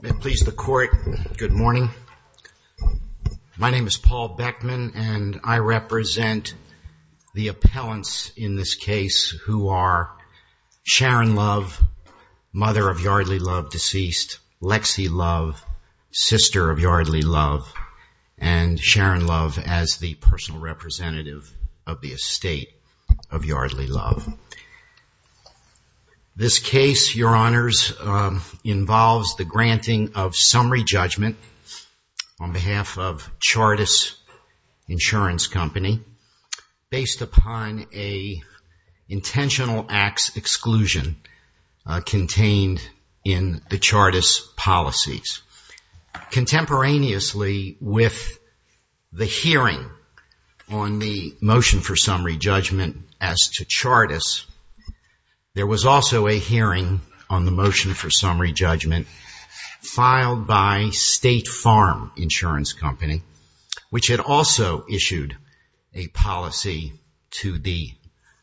May it please the Court, good morning. My name is Paul Beckman and I represent the appellants in this case who are Sharon Love, mother of Yardley Love, deceased, Lexi Love, sister of Yardley Love, and Sharon Love as the personal representative of the estate of Yardley Love. This case, Your Honors, involves the granting of summary judgment on behalf of Chartis Insurance Company based upon an intentional acts exclusion contained in the Chartis policies. Contemporaneously with the hearing on the motion for summary judgment as to Chartis, there was also a hearing on the motion for summary judgment filed by State Farm Insurance Company, which had also issued a policy to the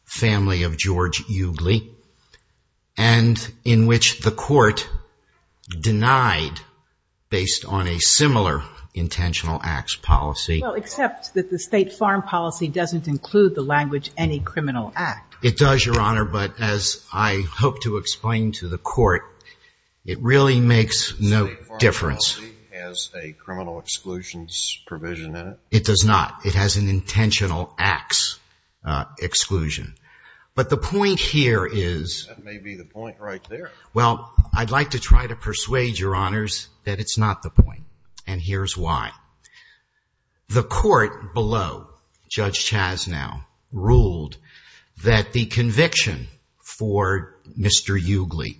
family of George Yardley, and in which the Court denied based on a similar intentional acts policy. Well, except that the State Farm policy doesn't include the language any criminal act. It does, Your Honor, but as I hope to explain to the Court, it really makes no difference. The State Farm policy has a criminal exclusions provision in it? It does not. It has an intentional acts exclusion. But the point here is… That may be the point right there. Well, I'd like to try to persuade Your Honors that it's not the point, and here's why. The Court below, Judge Chasnow, ruled that the conviction for Mr. Yardley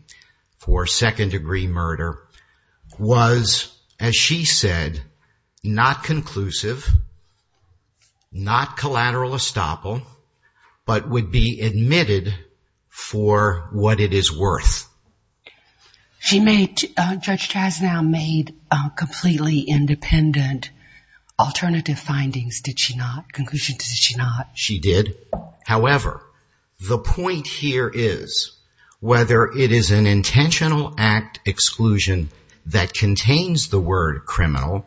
for second degree murder was, as she said, not conclusive, not collateral estoppel, but would be admitted for what it is worth. She made, Judge Chasnow, made completely independent alternative findings, did she not? Conclusion, did she not? She did. However, the point here is, whether it is an intentional act exclusion that contains the word criminal,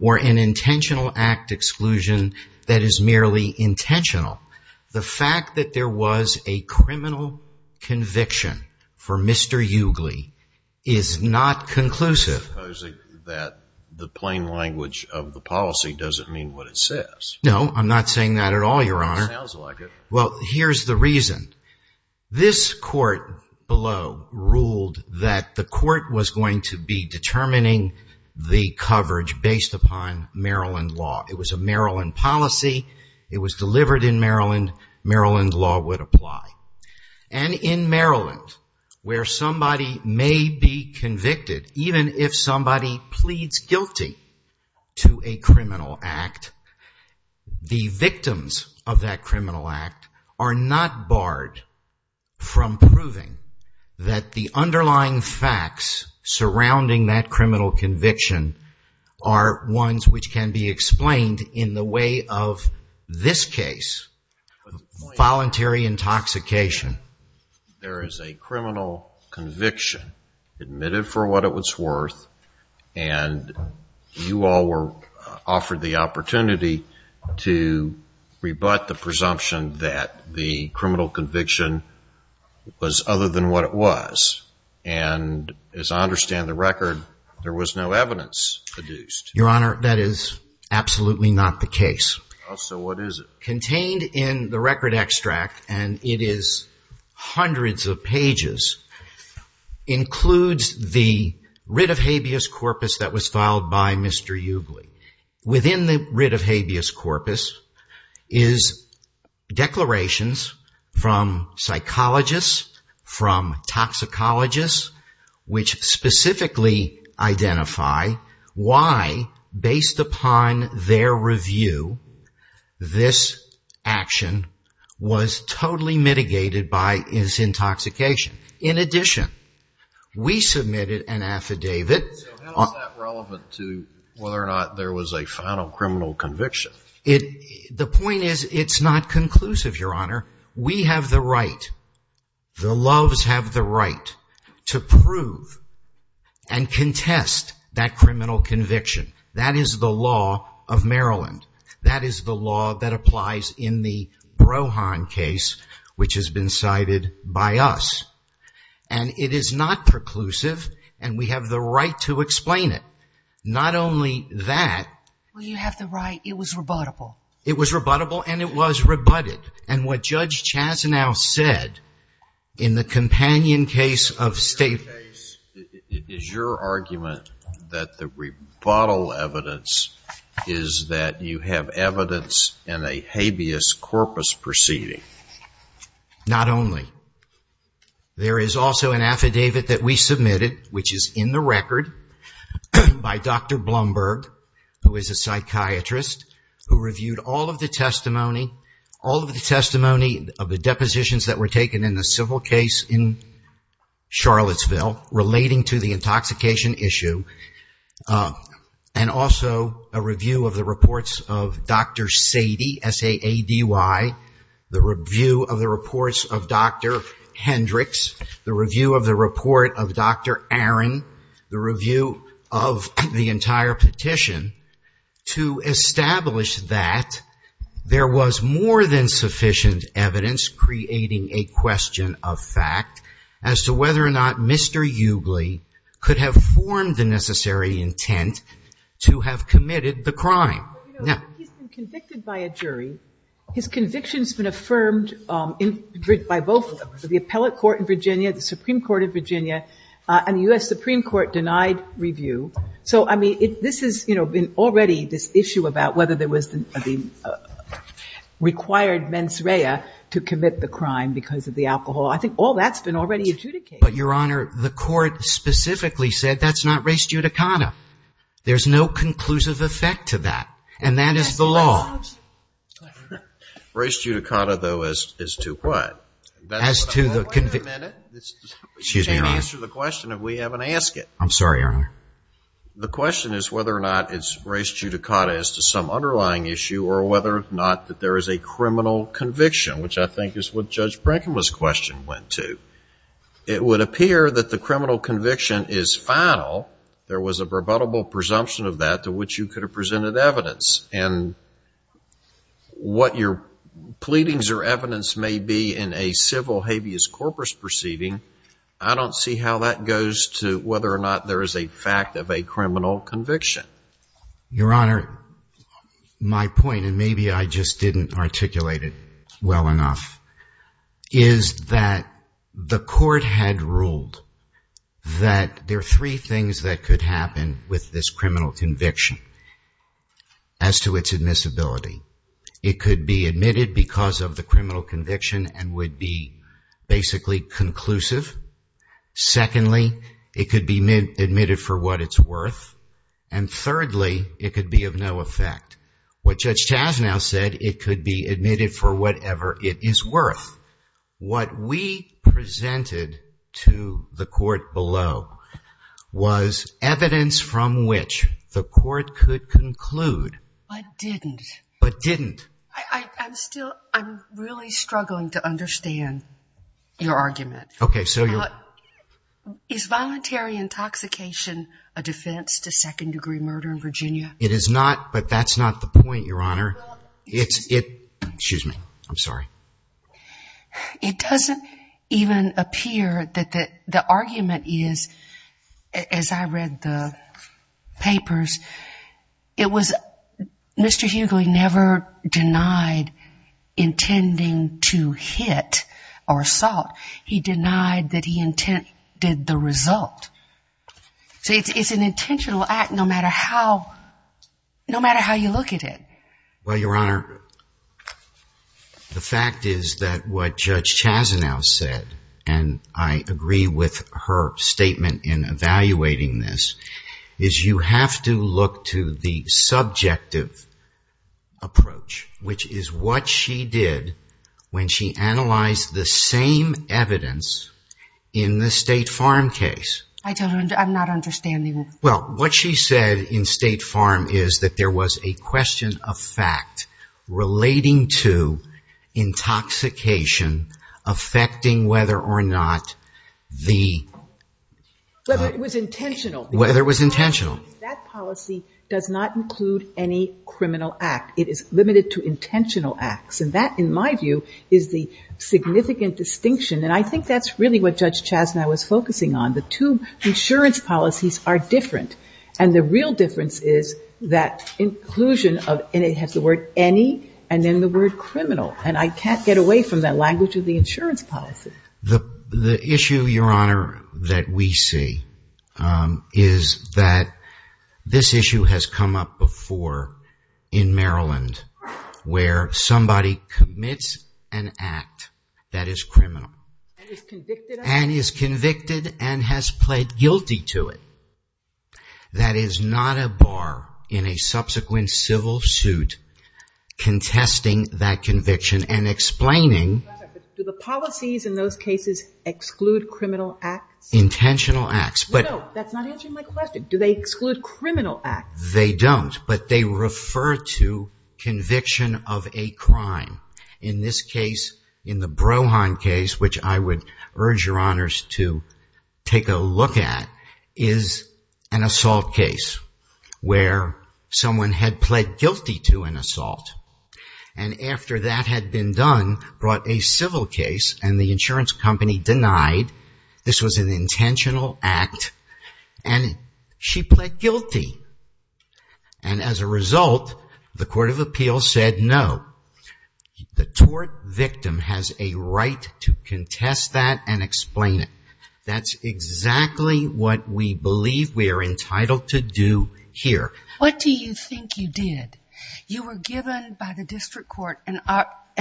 or an intentional act exclusion that is merely intentional, the fact that there was a criminal conviction for Mr. Yardley is not conclusive. So you're supposing that the plain language of the policy doesn't mean what it says? No, I'm not saying that at all, Your Honor. Sounds like it. Well, here's the reason. This Court below ruled that the Court was going to be determining the coverage based upon Maryland law. It was a Maryland policy. It was delivered in Maryland. Maryland law would apply. And in Maryland, where somebody may be convicted, even if somebody pleads guilty to a criminal act, the victims of that criminal act are not barred from proving that the underlying facts surrounding that criminal conviction are ones which can be explained in the way of this case, voluntary intoxication. There is a criminal conviction admitted for what it was worth, and you all were offered the opportunity to rebut the presumption that the criminal conviction was other than what it was. And as I understand the record, there was no evidence produced. Your Honor, that is absolutely not the case. So what is it? Contained in the record extract, and it is hundreds of pages, includes the writ of habeas corpus that was filed by Mr. Eugley. Within the writ of habeas corpus is declarations from psychologists, from toxicologists, which specifically identify why, based upon their review, this action was totally mitigated by his intoxication. In addition, we submitted an affidavit. So how is that relevant to whether or not there was a final criminal conviction? The point is, it's not conclusive, Your Honor. We have the right, the Loves have the right, to prove and contest that criminal conviction. That is the law of Maryland. That is the law that applies in the Brohan case, which has been cited by us. And it is not preclusive, and we have the right to explain it. Not only that... Well, you have the right. It was rebuttable. It was rebuttable, and it was rebutted. And what Judge Chazanow said in the companion case of state... In your case, is your argument that the rebuttal evidence is that you have evidence in a habeas corpus proceeding? Not only. There is also an affidavit that we submitted, which is in the record, by Dr. Blumberg, who is a psychiatrist, who reviewed all of the testimony, all of the testimony of the depositions that were taken in the civil case in Charlottesville relating to the intoxication issue, and also a review of the reports of Dr. Sady, S-A-A-D-Y, the review of the reports of Dr. Hendricks, the review of the report of Dr. Aaron, the review of the entire petition, to establish that there was more than sufficient evidence creating a question of fact as to whether or not Mr. Eugley could have formed the necessary intent to have committed the crime. But, you know, he's been convicted by a jury. His conviction's been affirmed by both of them, by the appellate court in Virginia, the Supreme Court of Virginia, and the U.S. Supreme Court denied review. So, I mean, this has, you know, been already this issue about whether there was the required mens rea to commit the crime because of the alcohol. I think all that's been already adjudicated. But, Your Honor, the court specifically said that's not res judicata. There's no conclusive effect to that. And that is the law. Res judicata, though, is to what? As to the conviction. Wait a minute. You can't answer the question if we haven't asked it. I'm sorry, Your Honor. The question is whether or not it's res judicata as to some underlying issue or whether or not that there is a criminal conviction, which I think is what Judge Brenkema's question went to. It would appear that the criminal conviction is final. There was a rebuttable presumption of that to which you could have presented evidence. And what your pleadings or evidence may be in a civil habeas corpus proceeding, I don't see how that goes to whether or not there is a fact of a criminal conviction. Your Honor, my point, and maybe I just didn't articulate it well enough, is that the court had ruled that there are three things that could happen with this criminal conviction as to its admissibility. It could be admitted because of the criminal conviction and would be basically conclusive. Secondly, it could be admitted for what it's worth. And thirdly, it could be of no effect. What Judge Chasnow said, it could be admitted for whatever it is worth. What we presented to the court below was evidence from which the court could have concluded. But didn't. But didn't. I'm still, I'm really struggling to understand your argument. Okay, so your... Is voluntary intoxication a defense to second-degree murder in Virginia? It is not, but that's not the point, Your Honor. It's, it, excuse me, I'm sorry. It doesn't even appear that the argument is, as I read the papers, that it's not a defense to second-degree murder. It was, Mr. Hughley never denied intending to hit or assault. He denied that he intended the result. So it's, it's an intentional act no matter how, no matter how you look at it. Well, Your Honor, the fact is that what Judge Chasnow said, and I agree with her statement in evaluating this, is you have to look to the subjective approach, which is what she did when she analyzed the same evidence in the State Farm case. I don't, I'm not understanding. Well, what she said in State Farm is that there was a question of fact relating to intoxication affecting whether or not the... Whether it was intentional. Whether it was intentional. That policy does not include any criminal act. It is limited to intentional acts, and that, in my view, is the significant distinction, and I think that's really what Judge Chasnow was focusing on. The two insurance policies are different, and the real difference is that inclusion of, and it has the word any and then the word criminal, and I can't get away from that language of the insurance policy. The issue, Your Honor, that we see is that this issue has come up before in Maryland, where somebody commits an act that is criminal, and is convicted and has pled guilty to it. That is not a bar in a subsequent civil suit contesting that conviction and explaining Do the policies in those cases exclude criminal acts? Intentional acts. No, that's not answering my question. Do they exclude criminal acts? They don't, but they refer to conviction of a crime. In this case, in the Brohan case, which I would urge Your Honors to take a look at, is an assault case, where someone had pled guilty to an assault, and after that had been done, brought a civil case, and the insurance company denied this was an intentional act, and she pled guilty, and as a result, the Court of Appeals said no. The tort victim has a right to contest that and explain it. That's exactly what we believe we are entitled to do here. What do you think you did? You were given by the district court an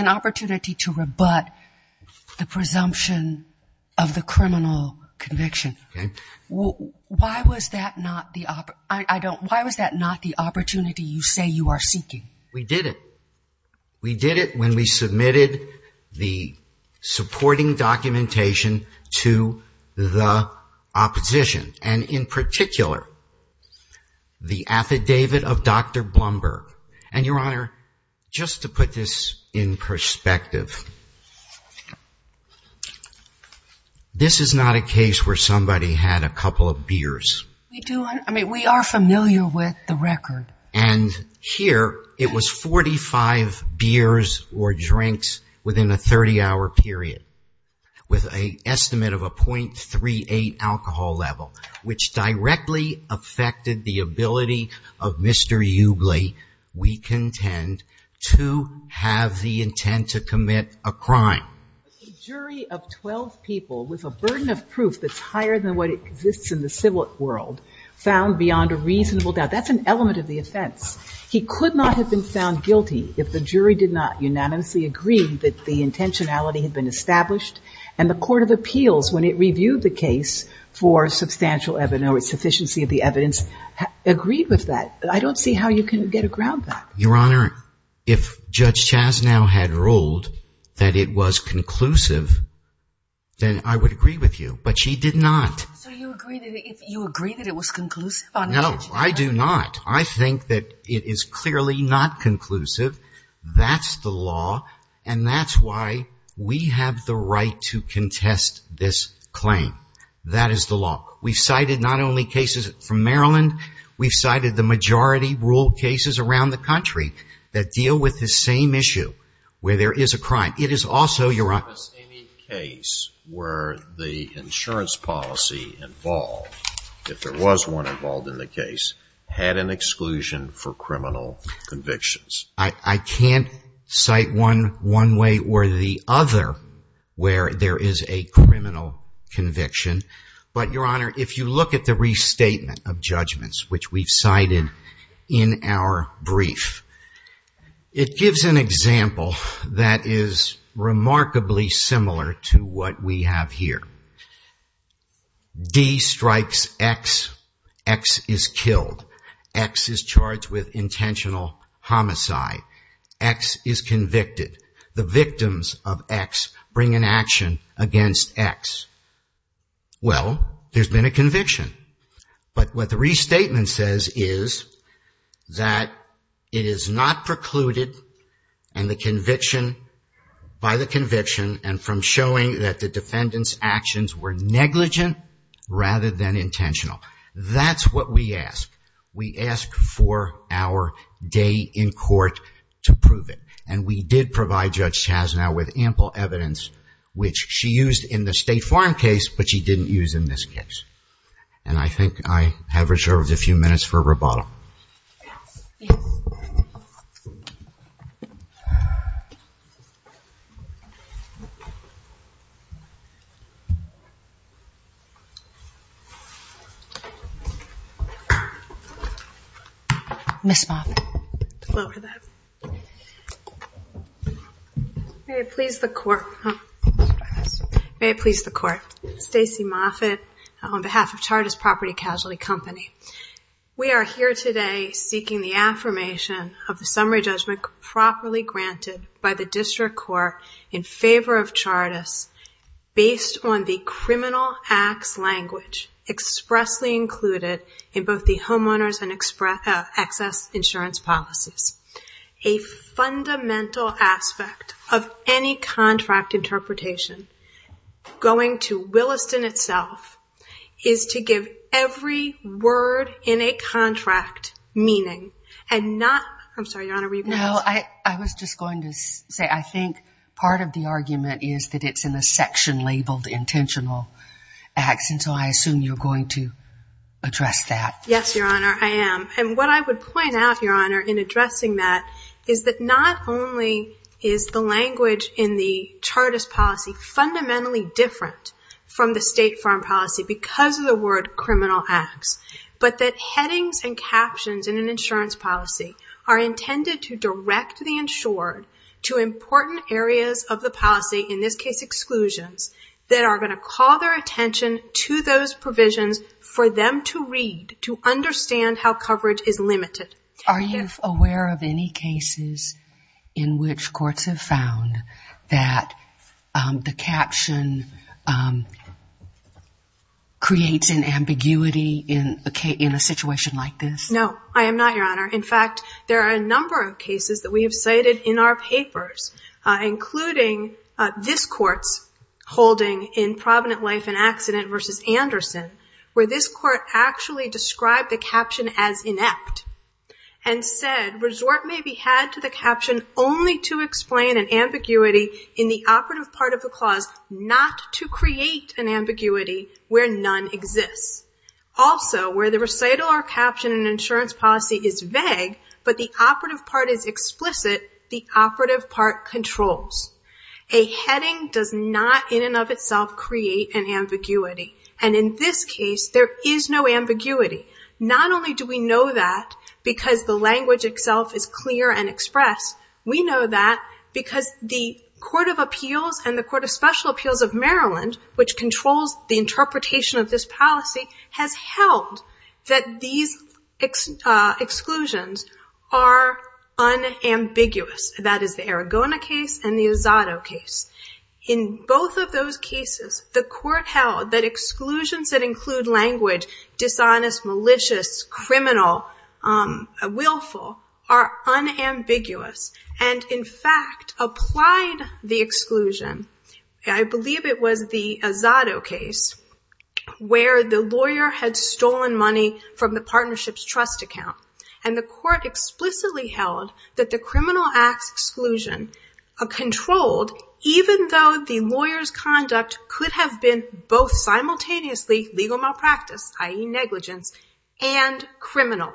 opportunity to rebut the presumption of the criminal conviction. Why was that not the opportunity you say you are seeking? We did it. We did it when we submitted the supporting documentation to the opposition, and in particular, the affidavit of Dr. Blumberg. And Your Honor, just to put this in perspective, this is not a case where somebody had a couple of beers. We are familiar with the record. And here, it was 45 beers or drinks within a 30-hour period, with an estimate of a .38 alcohol level, which directly affected the ability of Mr. Eubly, we contend, to have the intent to commit a crime. A jury of 12 people with a burden of proof that's higher than what exists in the civil world found beyond a reasonable doubt. That's an element of the offense. He could not have been found guilty if the jury did not unanimously agree that the intentionality had been established, and the Court of Appeals, when it reviewed the case for substantial evidence, or sufficiency of the evidence, agreed with that. I don't see how you can get a ground back. Your Honor, if Judge Chasnow had ruled that it was conclusive, then I would agree with you, but she did not. So you agree that it was conclusive? No, I do not. I think that it is clearly not conclusive. That's the law, and that's why we have the right to contest this claim. That is the law. We've cited not only cases from Maryland, we've cited the majority rule cases around the country that deal with this same issue where there is a crime. It is also, Your Honor- Was any case where the insurance policy involved, if there was one involved in the case, had an exclusion for criminal convictions? I can't cite one one way or the other where there is a criminal conviction, but Your Honor, if you look at the restatement of judgments, which we've cited in our brief, it gives an example that is remarkably similar to what we have here. D strikes X, X is killed, X is charged with intentional homicide, X is convicted. The victims of X bring an action against X. Well, there's been a conviction, but what the restatement says is that it is not precluded by the conviction and from showing that the defendant's actions were negligent rather than intentional. That's what we ask. We ask for our day in court to prove it, and we did provide Judge Chasnow with ample evidence, which she used in the State Farm case, but she didn't use in this case. And I think I have reserved a few minutes for rebuttal. Ms. Moffitt. Hello to that. May it please the Court, Stacy Moffitt, on behalf of Chartist Property Casualty Company. We are here today seeking the affirmation of the summary judgment properly granted by the District Court in favor of Chartist based on the criminal acts language expressly included in both the homeowner's and excess insurance policies. A fundamental aspect of any contract interpretation going to Williston itself is to give evidence that every word in a contract meaning, and not... I'm sorry, Your Honor, were you going to ask? No, I was just going to say, I think part of the argument is that it's in a section labeled intentional acts, and so I assume you're going to address that. Yes, Your Honor, I am. And what I would point out, Your Honor, in addressing that is that not only is the language in the Chartist policy fundamentally different from the State Farm policy because of the word criminal acts, but that headings and captions in an insurance policy are intended to direct the insured to important areas of the policy, in this case exclusions, that are going to call their attention to those provisions for them to read, to understand how coverage is limited. Are you aware of any cases in which courts have found that the caption in an insurance creates an ambiguity in a situation like this? No, I am not, Your Honor. In fact, there are a number of cases that we have cited in our papers, including this Court's holding in Provident Life and Accident v. Anderson, where this Court actually described the caption as inept, and said, resort may be had to the caption only to explain an ambiguity in the operative part of the clause not to create an ambiguity where none exists. Also, where the recital or caption in an insurance policy is vague, but the operative part is explicit, the operative part controls. A heading does not in and of itself create an ambiguity. And in this case, there is no ambiguity. Not only do we know that because the language itself is clear and expressed, we know that because the Court of Appeals and the Court of Special Appeals of Maryland, which controls the interpretation of this policy, has held that these exclusions are unambiguous. That is the Aragona case and the Azado case. In both of those cases, the Court held that exclusions that include language, dishonest, and unethical are unambiguous, and that the exclusion applied. I believe it was the Azado case where the lawyer had stolen money from the partnership's trust account, and the Court explicitly held that the criminal act's exclusion controlled, even though the lawyer's conduct could have been both simultaneously legal malpractice, i.e. negligence, and criminal.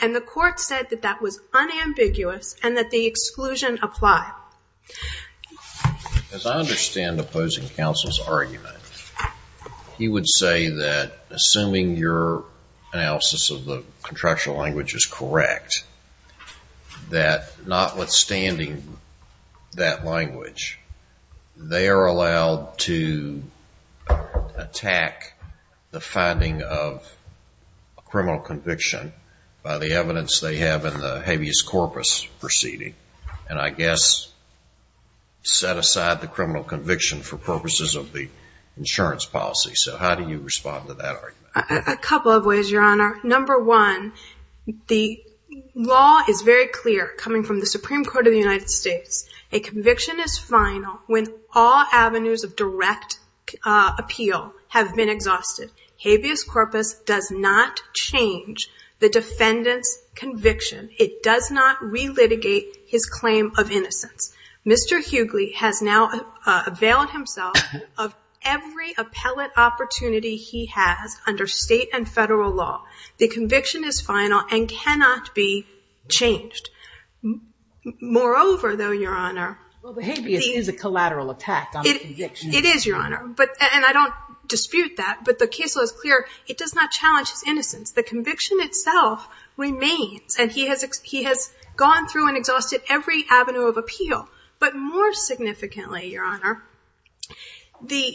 And the Court said that that was unambiguous and that the exclusion applied. As I understand the opposing counsel's argument, he would say that assuming your analysis of the contractual language is correct, that notwithstanding that language, they are allowed to attack the finding of a criminal conviction by the evidence they have in the habeas corpus proceeding, and I guess set aside the criminal conviction for purposes of the insurance policy. So how do you respond to that argument? A couple of ways, Your Honor. Number one, the law is very clear coming from the Supreme Court. The two avenues of direct appeal have been exhausted. Habeas corpus does not change the defendant's conviction. It does not re-litigate his claim of innocence. Mr. Hughley has now availed himself of every appellate opportunity he has under state and federal law. The conviction is final and cannot be changed. Moreover, though, Your Honor, Well, the habeas is a collateral attack on the conviction. It is, Your Honor, and I don't dispute that, but the case law is clear. It does not challenge his innocence. The conviction itself remains, and he has gone through and exhausted every avenue of appeal. But more significantly, Your Honor, the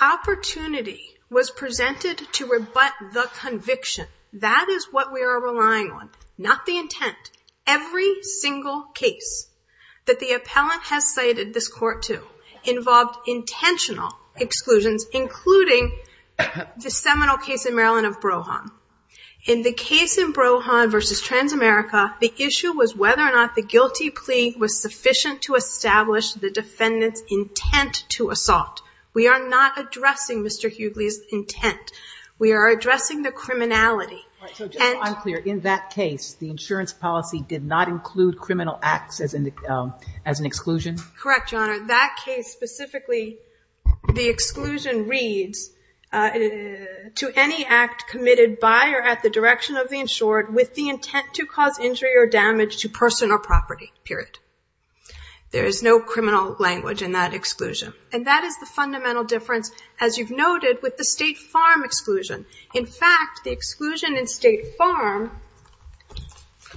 opportunity was presented to rebut the conviction. That is what we are relying on, not the intent. Every single case that the appellant has cited this Court to involved intentional exclusions, including the seminal case in Maryland of Brohan. In the case in Brohan v. Transamerica, the issue was whether or not the guilty plea was sufficient to establish the defendant's intent to assault. We are not addressing Mr. Hughley's intent. We are addressing the criminality. All right, so just to be clear, in that case, the insurance policy did not include criminal acts as an exclusion? Correct, Your Honor. That case specifically, the exclusion reads, to any act committed by or at the direction of the insured with the intent to cause injury or damage to person or property, period. There is no criminal language in that exclusion. And that is the fundamental difference, as you've noted, with the State Farm exclusion. In fact, the exclusion in State Farm,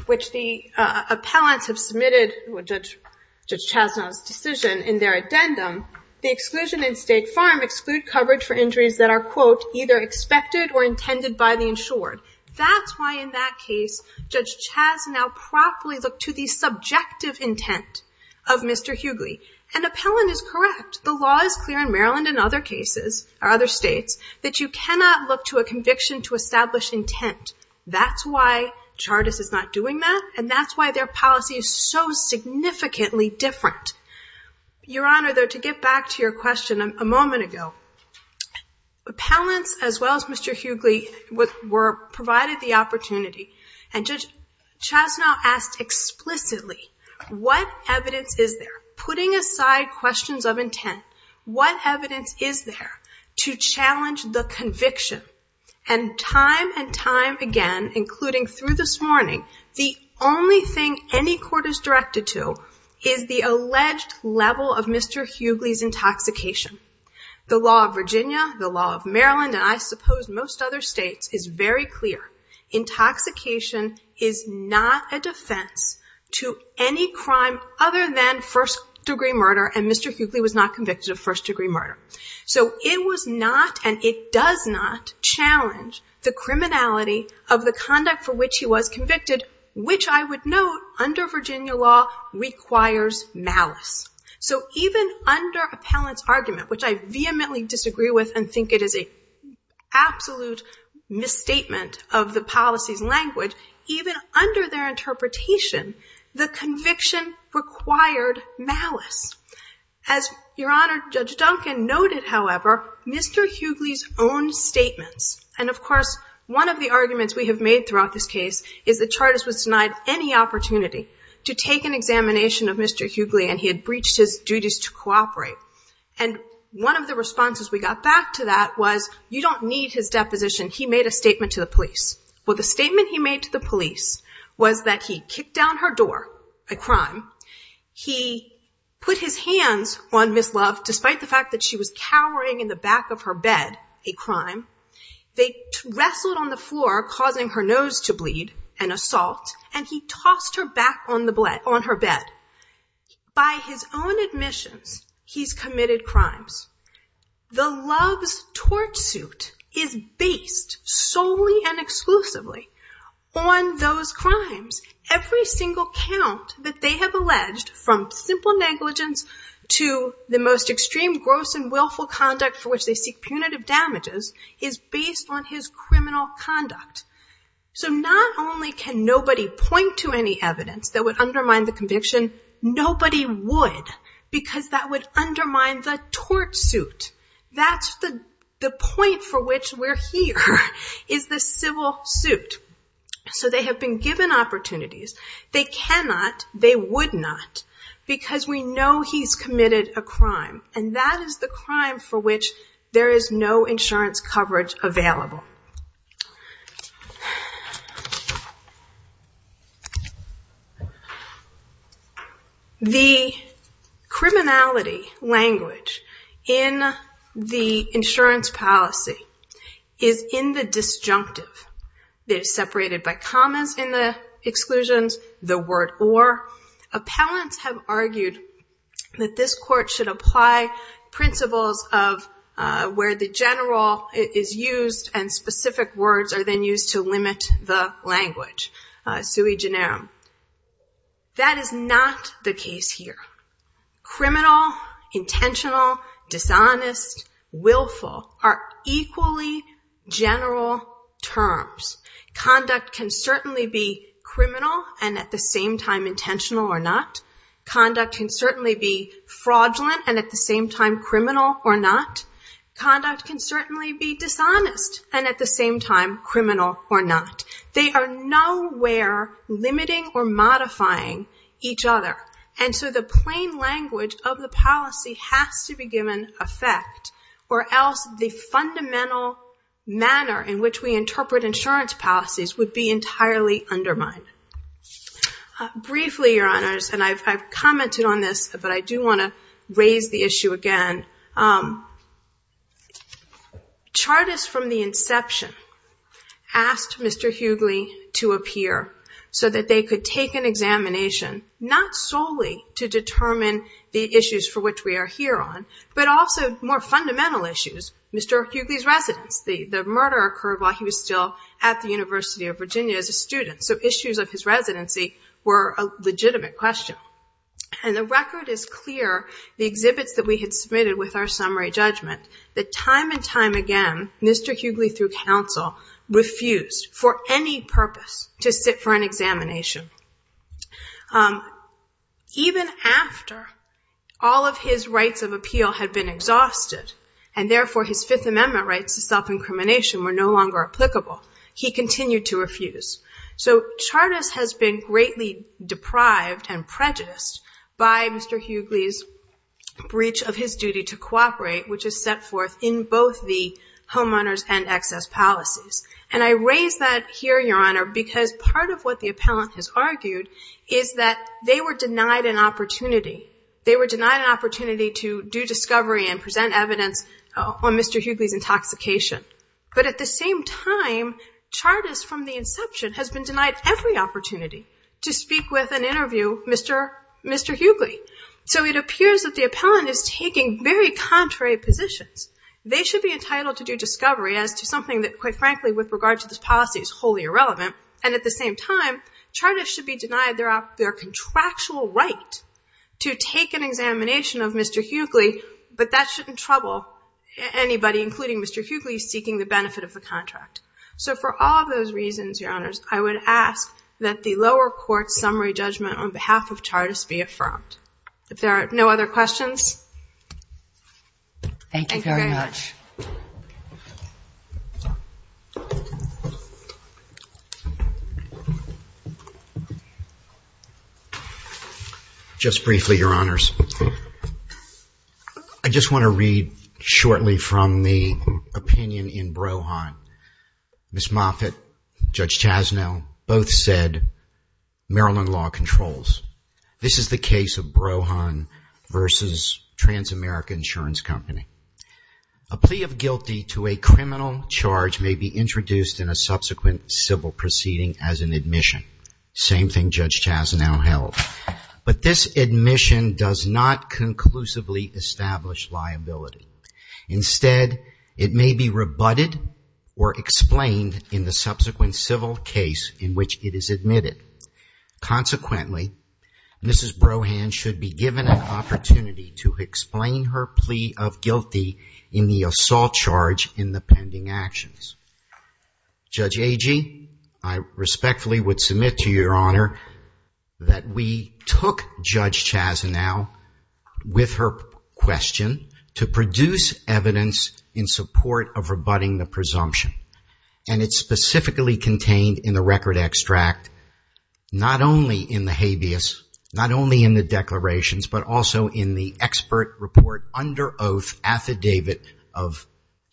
which the appellants have submitted Judge Chasnow's decision in their addendum, the exclusion in State Farm exclude coverage for injuries that are, quote, either expected or intended by the insured. That's why in that case, Judge Chasnow properly looked to the subjective intent of Mr. Hughley. An appellant is correct. The law is clear in Maryland and other states that you cannot look to a conviction to establish intent. That's why Chardas is not doing that and that's why their policy is so significantly different. Your Honor, though, to get back to your question a moment ago, appellants as well as Mr. Hughley were provided the opportunity and Judge Chasnow asked explicitly, what evidence is there, and time and time again, including through this morning, the only thing any court is directed to is the alleged level of Mr. Hughley's intoxication. The law of Virginia, the law of Maryland, and I suppose most other states is very clear. Intoxication is not a defense to any crime other than first degree murder and Mr. Hughley was not convicted of first degree murder. It was not and it does not challenge the criminality of the conduct for which he was convicted, which I would note under Virginia law requires malice. Even under appellant's argument, which I vehemently disagree with and think it is an absolute misstatement of the policy's language, even under their interpretation, the conviction required malice. As your Honor, Judge Duncan noted, however, Mr. Hughley's own statements and of course, one of the arguments we have made throughout this case is that Chartist was denied any opportunity to take an examination of Mr. Hughley and he had breached his duties to cooperate. One of the responses we got back to that was, you don't need his deposition. He made a statement to the police. Well, the statement he made to the police was that he kicked down her door, a crime. He put his hands on Ms. Love despite the fact that she was cowering in the back of her bed, a crime. They wrestled on the floor causing her nose to bleed, an assault and he tossed her back on her bed. By his own admissions, he's committed crimes. The Love's torch suit is based solely and exclusively on those crimes. Every single count that they have alleged from simple negligence to the most extreme gross and willful conduct for which they seek punitive damages is based on his criminal conduct. Not only can nobody point to any evidence that would undermine the conviction, nobody would because that would undermine the torch suit. That's the point for which we're here is the civil suit. So they have been given opportunities. They cannot, they would not because we know he's committed a crime and that is the crime for which there is no insurance coverage available. The criminality language in the insurance policy is in the defense of the person who is a disjunctive. They're separated by commas in the exclusions, the word or. Appellants have argued that this court should apply principles of where the general is used and specific words are then used to limit the language, sui generum. That is not the case here. Criminal, intentional, dishonest, willful are equally general terms. Conduct can certainly be criminal and at the same time intentional or not. Conduct can certainly be fraudulent and at the same time criminal or not. Conduct can certainly be dishonest and at the same time criminal or not. They are nowhere limiting or modifying each other. And so the plain language of the policy has to be given effect or else the fundamental manner in which we interpret insurance policies would be entirely undermined. Briefly, your honors, and I've commented on this, but I do want to raise the issue again. Chartists from the inception asked Mr. Hughley to appear so that they could take an examination, not solely to determine the issues for which we are here on, but also more fundamental issues. Mr. Hughley's residence, the murder occurred while he was still at the University of Virginia as a student, so issues of his residency were a legitimate question. And the record is clear, the exhibits that we had submitted with our summary judgment, that time and time again, Mr. Hughley through counsel refused for any purpose to sit for an examination. Even after all of his rights of appeal had been exhausted and therefore his Fifth Amendment rights to self-incrimination were no longer applicable, he continued to refuse. So Chartist has been greatly deprived and prejudiced by Mr. Hughley's breach of his duty to cooperate, which is set forth in both the homeowners and excess policies. And I raise that here, Your Honor, because part of what the appellant has argued is that they were denied an opportunity. They were denied an opportunity to do discovery and present evidence on Mr. Hughley's intoxication. But at the same time, Chartist from the inception has been denied every opportunity to speak with and interview Mr. Hughley. So it appears that the appellant is taking very contrary positions. They should be entitled to do discovery as to something that quite frankly with regard to this policy is wholly irrelevant. And at the same time, Chartist should be denied their contractual right to take an examination of Mr. Hughley, but that shouldn't trouble anybody, including Mr. Hughley, seeking the benefit of the contract. So for all those reasons, Your Honors, I would ask that the lower court summary judgment on behalf of Chartist be affirmed. If there are no other questions, thank you very much. Just briefly, Your Honors. I just want to read shortly from the opinion in Brohan. Ms. Moffitt, Judge Chasnow both said Maryland law controls. This is the case of Brohan versus Transamerica Insurance Company. A plea of guilty to a criminal charge may be introduced in a subsequent civil proceeding as an admission. Same thing Judge Chasnow held. But this admission does not conclusively establish liability. Instead, it may be rebutted or explained in the subsequent civil case in which it is admitted. Consequently, Mrs. Brohan should be given an opportunity to explain her plea of guilty in the assault charge in the pending actions. Judge Agee, I respectfully would submit to Your Honor that we took Judge Chasnow with her question to produce evidence in support of rebutting the presumption. And it's specifically contained in the record extract, not only in the habeas, not only in the declarations, but also in the expert report under oath affidavit of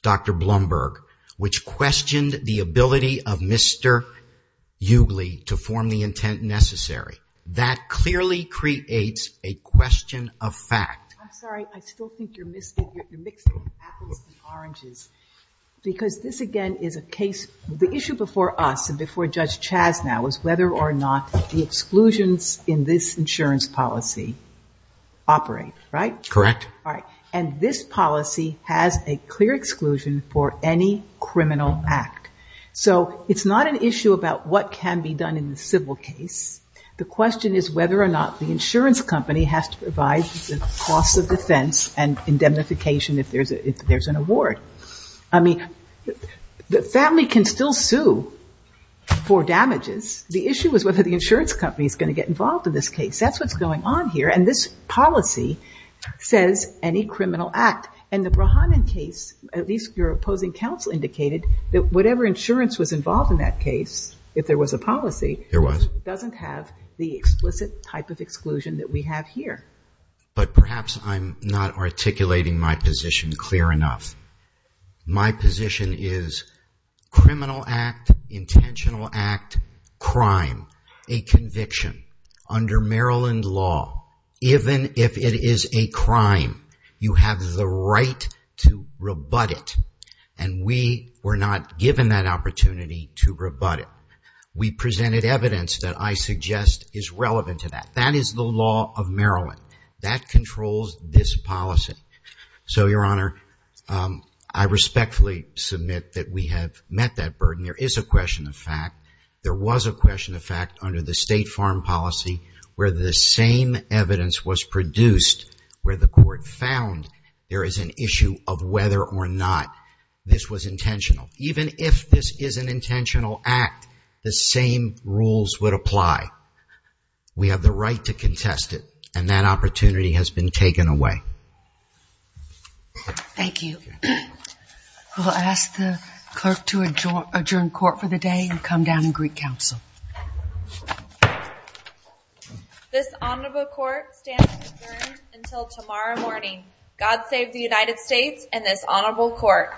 Dr. Blumberg, which questioned the ability of Mr. Ugly to form the intent necessary. That clearly creates a question of fact. I'm sorry, I still think you're mixing apples and oranges. Because this again is a case, the issue before us and before Judge Chasnow is whether or not the exclusions in this insurance policy operate, right? Correct. And this policy has a clear exclusion for any criminal act. So it's not an issue about what can be done in the civil case. The question is whether or not the insurance company has to provide the cost of defense and indemnification if there's an award. I mean, the family can still sue for damages. The issue is whether the insurance company is going to get involved in this case. That's what's going on here. And this policy says any criminal act. And the Brahman case, at least your opposing counsel indicated that whatever insurance was involved in that case, if there was a policy, it doesn't have the explicit type of exclusion that we have here. But perhaps I'm not articulating my position clear enough. My position is criminal act, intentional act, crime, a conviction under Maryland law. Even if it is a crime, you have the right to rebut it. And we were not given that opportunity to rebut it. We presented evidence that I suggest is relevant to that. That is the law of Maryland. That controls this policy. So, Your Honor, I respectfully submit that we have met that burden. There is a question of fact. There was a question of fact under the state farm policy where the same evidence was produced where the court found there is an issue of whether or not this was intentional. Even if this is an intentional act, the same rules would apply. We have the right to contest it. And that opportunity has been taken away. Thank you. We'll ask the clerk to adjourn court for the day and come down in Greek Council. This honorable court stands adjourned until tomorrow morning. God save the United States and this honorable court.